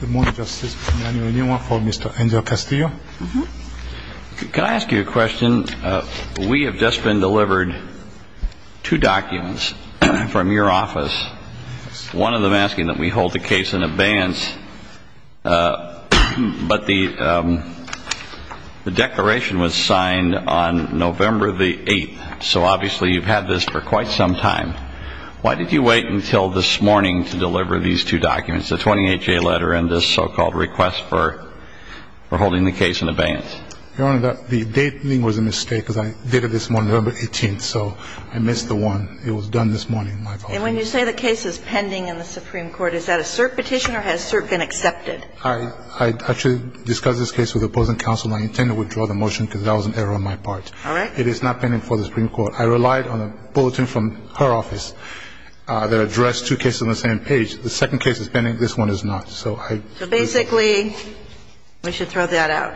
Good morning, Justice Emanuel. You have a question for Mr. Angel Castillo? Can I ask you a question? We have just been delivered two documents from your office, one of them asking that we hold the case in advance. But the declaration was signed on November the 8th, so obviously you've had this for quite some time. Why did you wait until this morning to deliver these two documents, the 28-J letter and this so-called request for holding the case in advance? Your Honor, the dating was a mistake because I did it this morning, November 18th, so I missed the one. It was done this morning, my fault. And when you say the case is pending in the Supreme Court, is that a cert petition or has cert been accepted? I actually discussed this case with opposing counsel. I intend to withdraw the motion because that was an error on my part. All right. It is not pending before the Supreme Court. I relied on a bulletin from her office that addressed two cases on the same page. The second case is pending. This one is not. So I do not. So basically we should throw that out?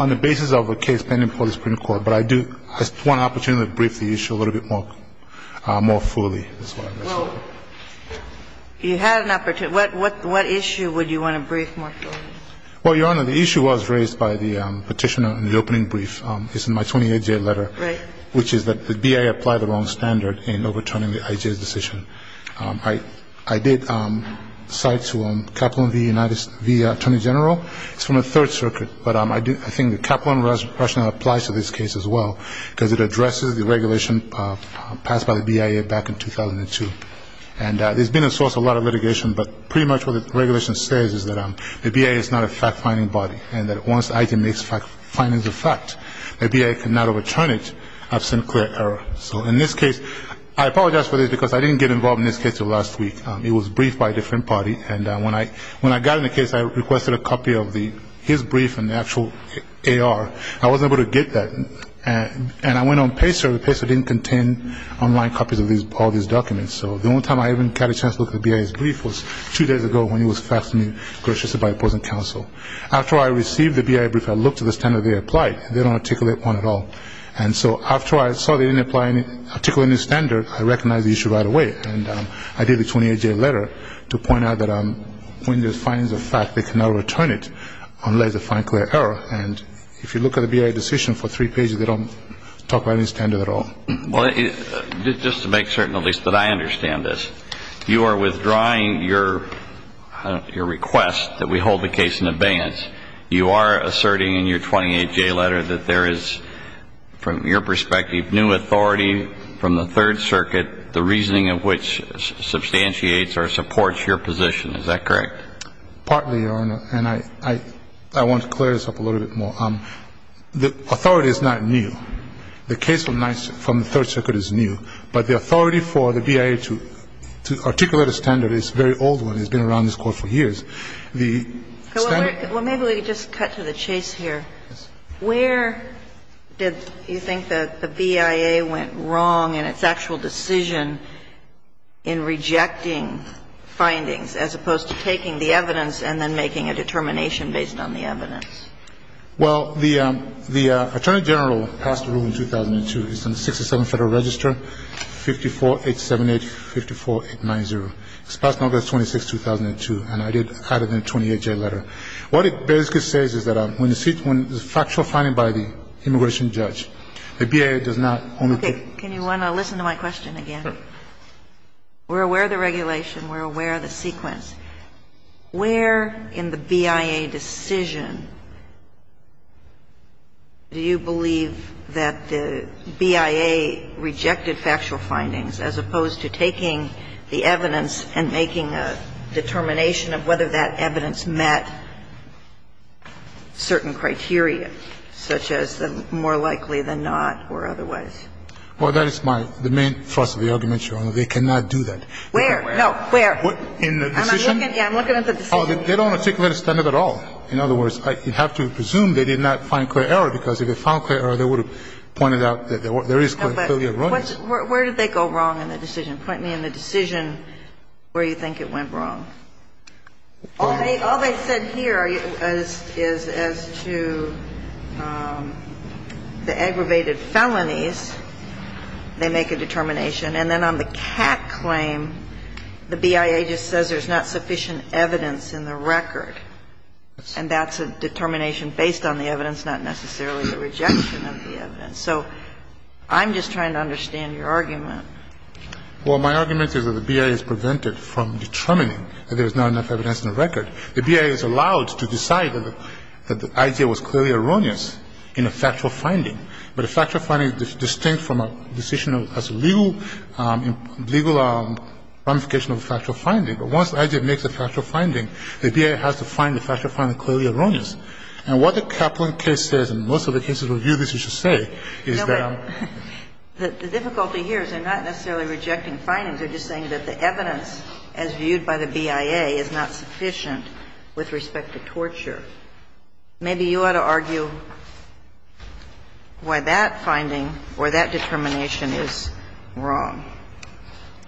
On the basis of a case pending before the Supreme Court. But I do want an opportunity to brief the issue a little bit more fully. Well, you had an opportunity. What issue would you want to brief more fully? Well, Your Honor, the issue was raised by the petitioner in the opening brief. It's in my 28-year letter. Right. Which is that the BIA applied the wrong standard in overturning the IJ's decision. I did cite to him Kaplan v. Attorney General. It's from the Third Circuit. But I think the Kaplan rationale applies to this case as well because it addresses the regulation passed by the BIA back in 2002. And there's been a source of a lot of litigation, but pretty much what the regulation says is that the BIA is not a fact-finding body and that once IJ makes findings of fact, the BIA cannot overturn it absent clear error. So in this case, I apologize for this because I didn't get involved in this case until last week. It was briefed by a different party. And when I got in the case, I requested a copy of his brief and the actual AR. I wasn't able to get that. And I went on Pacer. Pacer didn't contain online copies of all these documents. So the only time I even got a chance to look at the BIA's brief was two days ago when it was faxed to me by opposing counsel. After I received the BIA brief, I looked at the standard they applied. They don't articulate one at all. And so after I saw they didn't articulate any standard, I recognized the issue right away. And I did the 28-day letter to point out that when there's findings of fact, they cannot overturn it unless they find clear error. And if you look at the BIA decision for three pages, they don't talk about any standard at all. Well, just to make certain at least that I understand this, you are withdrawing your request that we hold the case in abeyance. You are asserting in your 28-day letter that there is, from your perspective, new authority from the Third Circuit, the reasoning of which substantiates or supports your position. Is that correct? Partly, Your Honor. And I want to clear this up a little bit more. The authority is not new. The case from the Third Circuit is new. But the authority for the BIA to articulate a standard is a very old one. It's been around this Court for years. The standard... Well, maybe we could just cut to the chase here. Yes. Where did you think the BIA went wrong in its actual decision in rejecting findings as opposed to taking the evidence and then making a determination based on the evidence? Well, the Attorney General passed a rule in 2002. It's in the 67 Federal Register, 54878-54890. It was passed on August 26, 2002. And I did cut it in a 28-day letter. What it basically says is that when the factual finding by the immigration judge, the BIA does not only... Okay. Can you want to listen to my question again? Sure. We're aware of the regulation. We're aware of the sequence. Where in the BIA decision do you believe that the BIA rejected factual findings as opposed to taking the evidence and making a determination of whether that evidence met certain criteria, such as the more likely than not or otherwise? Well, that is my main thrust of the argument, Your Honor. They cannot do that. Where? No, where? In the decision? Yeah, I'm looking at the decision. Oh, they don't articulate a standard at all. In other words, you'd have to presume they did not find clear error, because if they found clear error, they would have pointed out that there is clear error. No, but where did they go wrong in the decision? Point me in the decision where you think it went wrong. All they said here is as to the aggravated felonies, they make a determination. And then on the CAC claim, the BIA just says there's not sufficient evidence in the record. And that's a determination based on the evidence, not necessarily the rejection of the evidence. So I'm just trying to understand your argument. Well, my argument is that the BIA is prevented from determining that there is not enough evidence in the record. The BIA is allowed to decide that the idea was clearly erroneous in a factual finding. But a factual finding is distinct from a decision that has a legal ramification of a factual finding. But once the idea makes a factual finding, the BIA has to find the factual finding clearly erroneous. And what the Kaplan case says, and most of the cases that review this, you should say, is that the difficulty here is they're not necessarily rejecting findings. They're just saying that the evidence, as viewed by the BIA, is not sufficient with respect to torture. Maybe you ought to argue why that finding or that determination is wrong.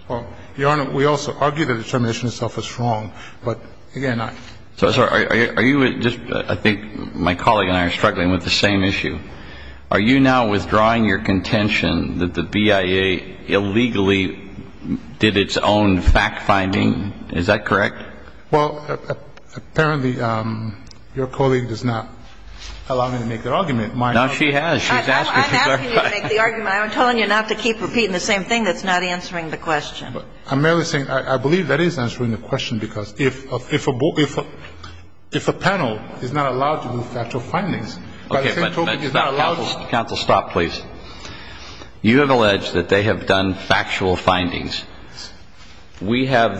Well, Your Honor, we also argue the determination itself is wrong. But, again, I'm sorry. Are you just – I think my colleague and I are struggling with the same issue. Are you now withdrawing your contention that the BIA illegally did its own fact-finding? Is that correct? Well, apparently, your colleague does not allow me to make the argument. Now, she has. I'm asking you to make the argument. I'm telling you not to keep repeating the same thing that's not answering the question. I'm merely saying I believe that is answering the question, because if a panel is not allowed to do factual findings, by the same token, it's not allowed to do factual findings. Counsel, stop, please. You have alleged that they have done factual findings. We have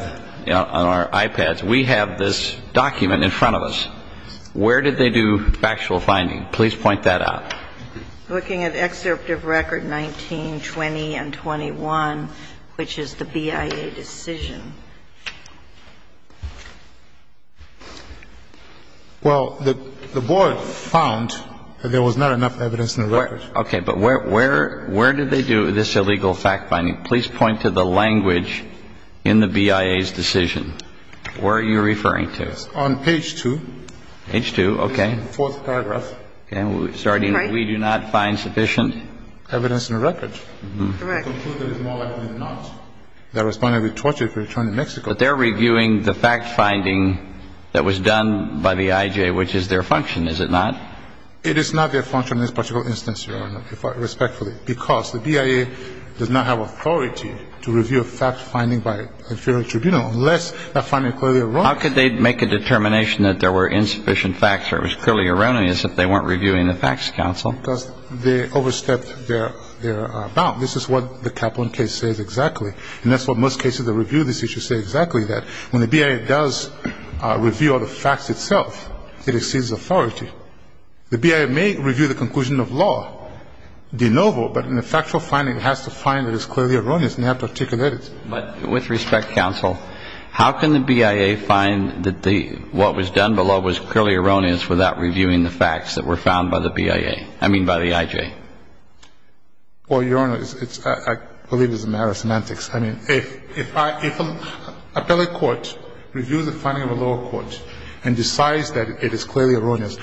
on our iPads, we have this document in front of us. Where did they do factual finding? Please point that out. Looking at Excerpt of Record 19, 20, and 21, which is the BIA decision. Well, the Board found that there was not enough evidence in the record. But where did they do this illegal fact-finding? Please point to the language in the BIA's decision. Where are you referring to? On page 2. Page 2. Okay. Fourth paragraph. Okay. Starting with, we do not find sufficient. Evidence in the record. Correct. They concluded it's more likely than not that Respondent would be tortured for returning to Mexico. But they're reviewing the fact-finding that was done by the IJ, which is their function, is it not? It is not their function in this particular instance, Your Honor, respectfully, because the BIA does not have authority to review a fact-finding by inferior tribunal, unless that finding clearly erroneous. How could they make a determination that there were insufficient facts or it was clearly erroneous if they weren't reviewing the Facts Council? Because they overstepped their bound. This is what the Kaplan case says exactly. And that's what most cases that review this issue say exactly, that when the BIA does review all the facts itself, it exceeds authority. The BIA may review the conclusion of law de novo, but in a factual finding it has to find that it's clearly erroneous and they have to articulate it. But with respect, counsel, how can the BIA find that what was done below was clearly erroneous without reviewing the facts that were found by the BIA, I mean by the IJ? Well, Your Honor, I believe it's a matter of semantics. I mean, if an appellate court reviews the finding of a lower court and decides that it is clearly erroneous,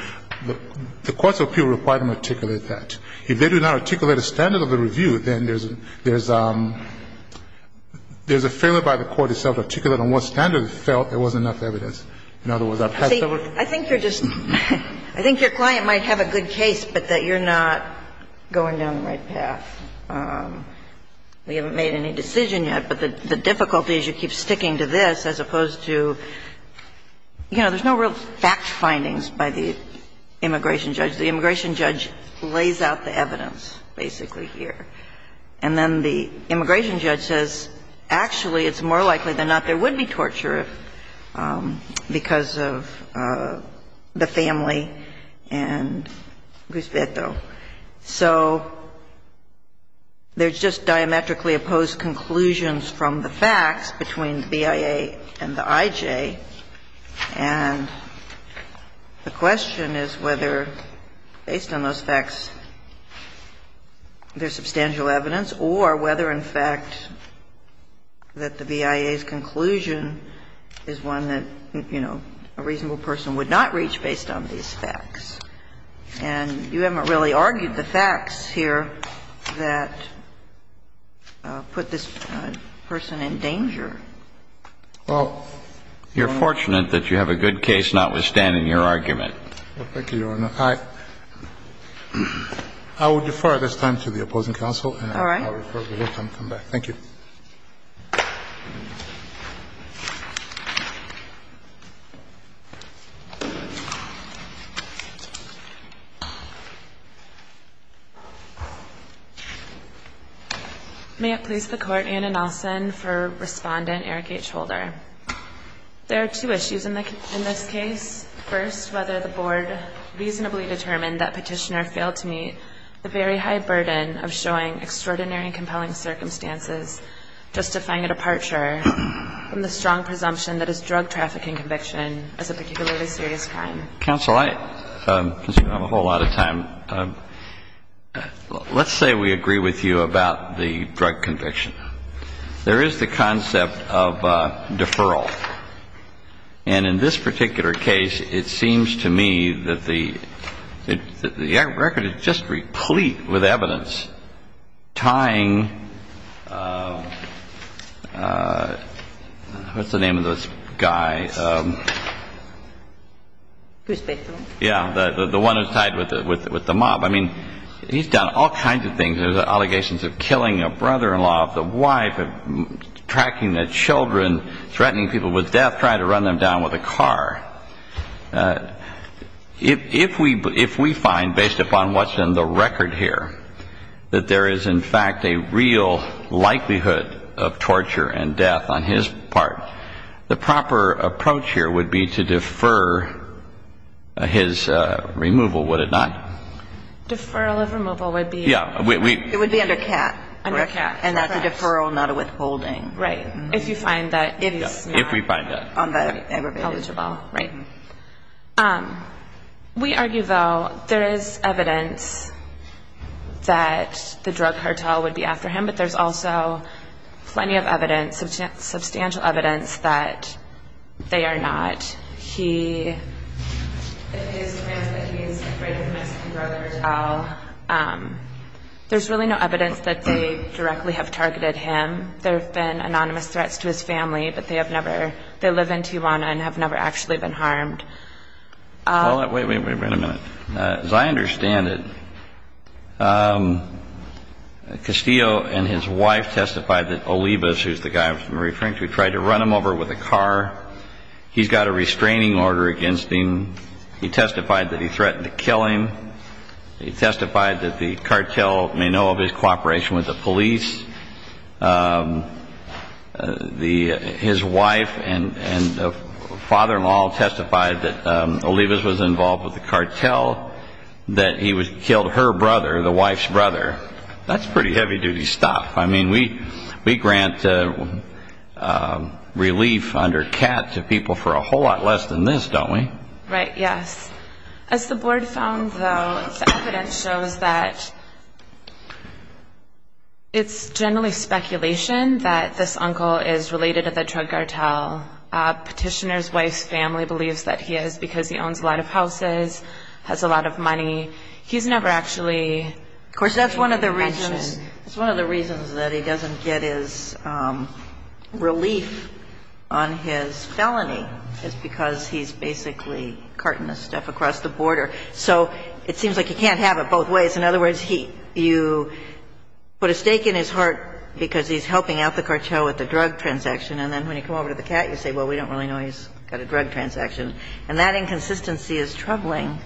the courts of appeal require them to articulate that. If they do not articulate a standard of the review, then there's a failure by the court itself to articulate on what standard it felt there was enough evidence. In other words, I've had several cases. See, I think you're just – I think your client might have a good case, but that you're not going down the right path. We haven't made any decision yet, but the difficulty is you keep sticking to this as opposed to, you know, there's no real fact findings by the immigration judge. The immigration judge lays out the evidence basically here. And then the immigration judge says, actually, it's more likely than not there would be torture because of the family and Guspieto. So there's just diametrically opposed conclusions from the facts between the BIA and the IJ, and the question is whether, based on those facts, there's substantial evidence or whether, in fact, that the BIA's conclusion is one that, you know, a reasonable person would not reach based on these facts. And you haven't really argued the facts here that put this person in danger. Well, you're fortunate that you have a good case notwithstanding your argument. Thank you, Your Honor. I will defer this time to the opposing counsel. All right. And I'll refer to you when I come back. Thank you. May it please the Court, Anna Nelson for Respondent Eric H. Holder. There are two issues in this case. First, whether the Board reasonably determined that Petitioner failed to meet the very high presumption that his drug trafficking conviction is a particularly serious crime. Counsel, I consider I have a whole lot of time. Let's say we agree with you about the drug conviction. There is the concept of deferral. And in this particular case, it seems to me that the record is just replete with evidence tying what's the name of this guy? Yeah, the one who's tied with the mob. I mean, he's done all kinds of things. There's allegations of killing a brother-in-law, of the wife, of tracking the children, threatening people with death, trying to run them down with a car. If we find, based upon what's in the record here, that there is, in fact, a real likelihood of torture and death on his part, the proper approach here would be to defer his removal, would it not? Deferral of removal would be? Yeah. It would be under CAT. Under CAT. And that's a deferral, not a withholding. Right. If you find that it is not on the aggravated. Not negligible. Right. We argue, though, there is evidence that the drug cartel would be after him, but there's also plenty of evidence, substantial evidence, that they are not. He, if he has claimed that he is afraid of the Mexican drug cartel, there's really no evidence that they directly have targeted him. There have been anonymous threats to his family, but they have never, they live in Tijuana and have never actually been harmed. Wait a minute. As I understand it, Castillo and his wife testified that Olivas, who's the guy with Marie Frank, who tried to run him over with a car, he's got a restraining order against him. He testified that he threatened to kill him. He testified that the cartel may know of his cooperation with the police. His wife and father-in-law testified that Olivas was involved with the cartel, that he killed her brother, the wife's brother. That's pretty heavy-duty stuff. I mean, we grant relief under CAT to people for a whole lot less than this, don't we? Right. Yes. As the board found, though, the evidence shows that it's generally speculation that this uncle is related to the drug cartel. Petitioner's wife's family believes that he is because he owns a lot of houses, has a lot of money. He's never actually mentioned. Of course, that's one of the reasons that he doesn't get his relief on his felony, is because he's basically carting the stuff across the border. So it seems like you can't have it both ways. In other words, you put a stake in his heart because he's helping out the cartel with the drug transaction, and then when you come over to the CAT, you say, well, we don't really know he's got a drug transaction. And that inconsistency is troubling.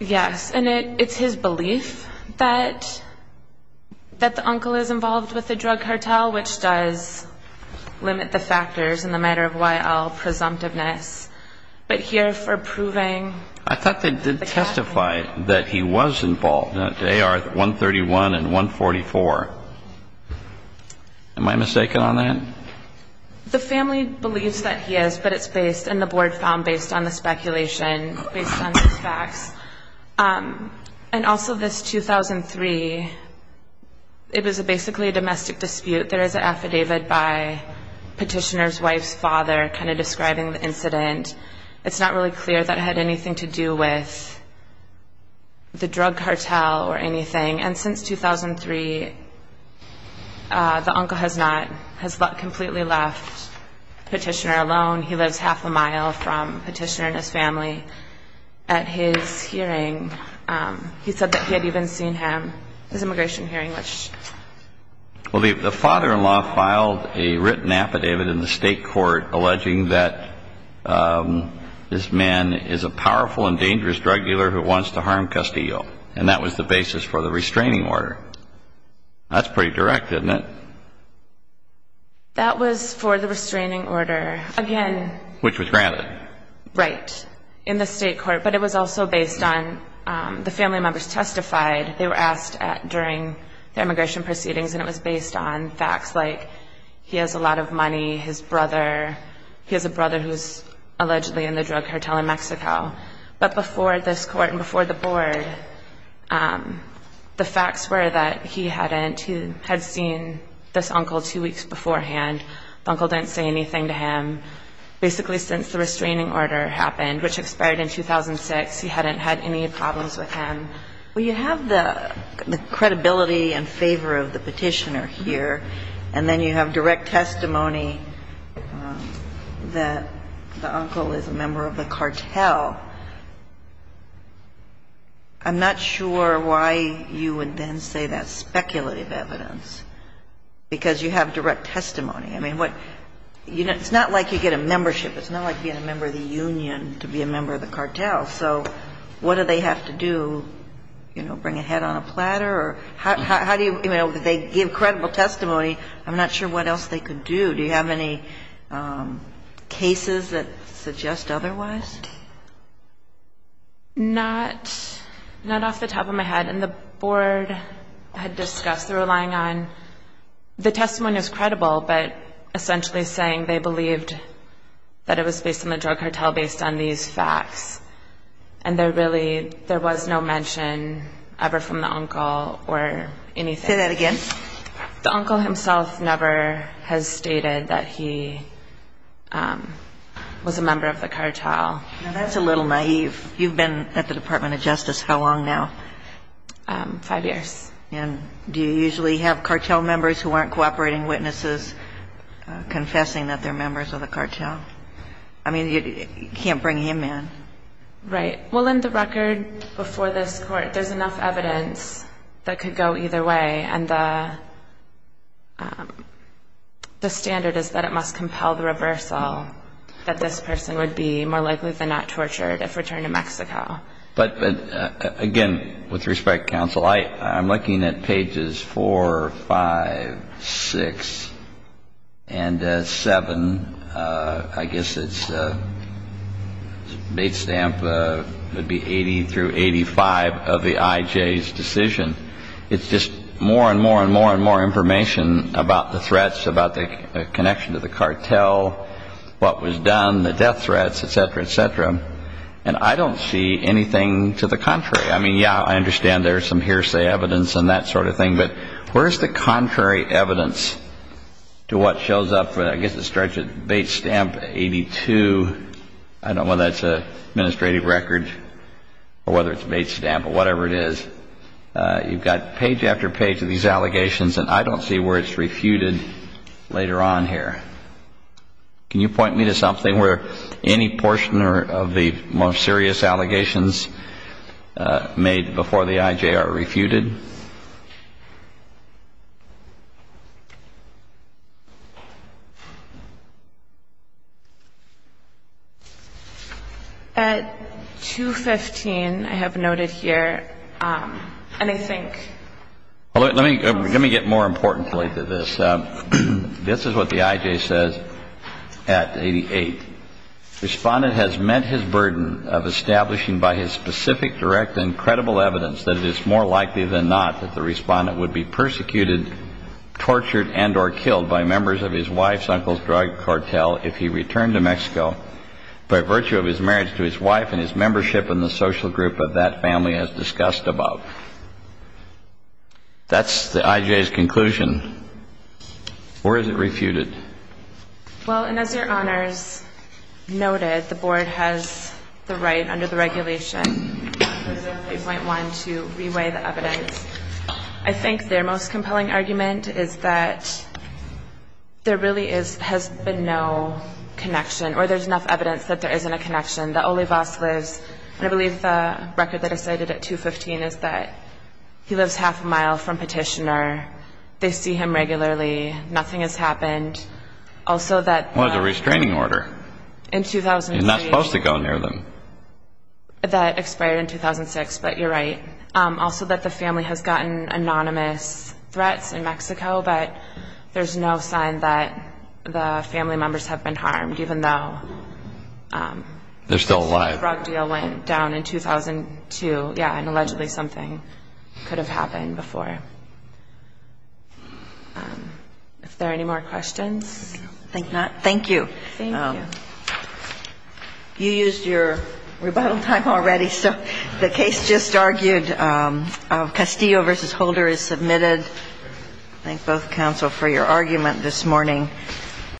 Yes. And it's his belief that the uncle is involved with the drug cartel, all which does limit the factors in the matter of Y.L. presumptiveness. But here for proving the CAT. I thought they did testify that he was involved. They are 131 and 144. Am I mistaken on that? The family believes that he is, but it's based, and the board found, based on the speculation, based on the facts. And also this 2003, it was basically a domestic dispute. There is an affidavit by Petitioner's wife's father kind of describing the incident. It's not really clear that it had anything to do with the drug cartel or anything. And since 2003, the uncle has not, has completely left Petitioner alone. He lives half a mile from Petitioner and his family. At his hearing, he said that he had even seen him, his immigration hearing. Well, the father-in-law filed a written affidavit in the state court alleging that this man is a powerful and dangerous drug dealer who wants to harm Castillo. And that was the basis for the restraining order. That's pretty direct, isn't it? That was for the restraining order, again. Which was granted. Right, in the state court. But it was also based on the family members testified. They were asked during their immigration proceedings, and it was based on facts like he has a lot of money, his brother. He has a brother who is allegedly in the drug cartel in Mexico. But before this court and before the board, the facts were that he hadn't, he had seen this uncle two weeks beforehand. The uncle didn't say anything to him. Basically since the restraining order happened, which expired in 2006, he hadn't had any problems with him. Well, you have the credibility and favor of the Petitioner here. And then you have direct testimony that the uncle is a member of the cartel. I'm not sure why you would then say that's speculative evidence, because you have direct testimony. I mean, what, you know, it's not like you get a membership. It's not like being a member of the union to be a member of the cartel. So what do they have to do, you know, bring a head on a platter? Or how do you, you know, they give credible testimony. I'm not sure what else they could do. Do you have any cases that suggest otherwise? Not off the top of my head. And the board had discussed, they were relying on, the testimony was credible, but essentially saying they believed that it was based on the drug cartel, based on these facts. And there really, there was no mention ever from the uncle or anything. Say that again. The uncle himself never has stated that he was a member of the cartel. Now, that's a little naive. You've been at the Department of Justice how long now? Five years. And do you usually have cartel members who aren't cooperating witnesses confessing that they're members of the cartel? I mean, you can't bring him in. Right. Well, in the record before this court, there's enough evidence that could go either way. And the standard is that it must compel the reversal, that this person would be more likely than not tortured if returned to Mexico. But, again, with respect, counsel, I'm looking at pages 4, 5, 6, and 7. I guess its date stamp would be 80 through 85 of the IJ's decision. It's just more and more and more and more information about the threats, about the connection to the cartel, what was done, the death threats, et cetera, et cetera. And I don't see anything to the contrary. I mean, yeah, I understand there's some hearsay evidence and that sort of thing, but where's the contrary evidence to what shows up, I guess it starts with date stamp 82. I don't know whether that's an administrative record or whether it's a date stamp or whatever it is. You've got page after page of these allegations, and I don't see where it's refuted later on here. Can you point me to something where any portion of the most serious allegations made before the IJ are refuted? At 215, I have noted here, and I think. Let me get more importantly to this. This is what the IJ says at 88. Respondent has met his burden of establishing by his specific, direct, and credible evidence that it is more likely than not that the respondent would be persecuted, tortured, and or killed by members of his wife's uncle's drug cartel if he returned to Mexico by virtue of his marriage to his wife and his membership in the social group of that family as discussed above. That's the IJ's conclusion. Or is it refuted? Well, and as your honors noted, the board has the right under the regulation, as of 8.1, to reweigh the evidence. I think their most compelling argument is that there really has been no connection or there's enough evidence that there isn't a connection. And I believe the record that is cited at 215 is that he lives half a mile from Petitioner. They see him regularly. Nothing has happened. Also that the What is the restraining order? In 2003. You're not supposed to go near them. That expired in 2006, but you're right. Also that the family has gotten anonymous threats in Mexico, but there's no sign that the family members have been harmed, even though the drug deal went down in 2002. Yeah, and allegedly something could have happened before. Are there any more questions? I think not. Thank you. Thank you. You used your rebuttal time already, so the case just argued. Castillo v. Holder is submitted. Thank both counsel for your argument this morning.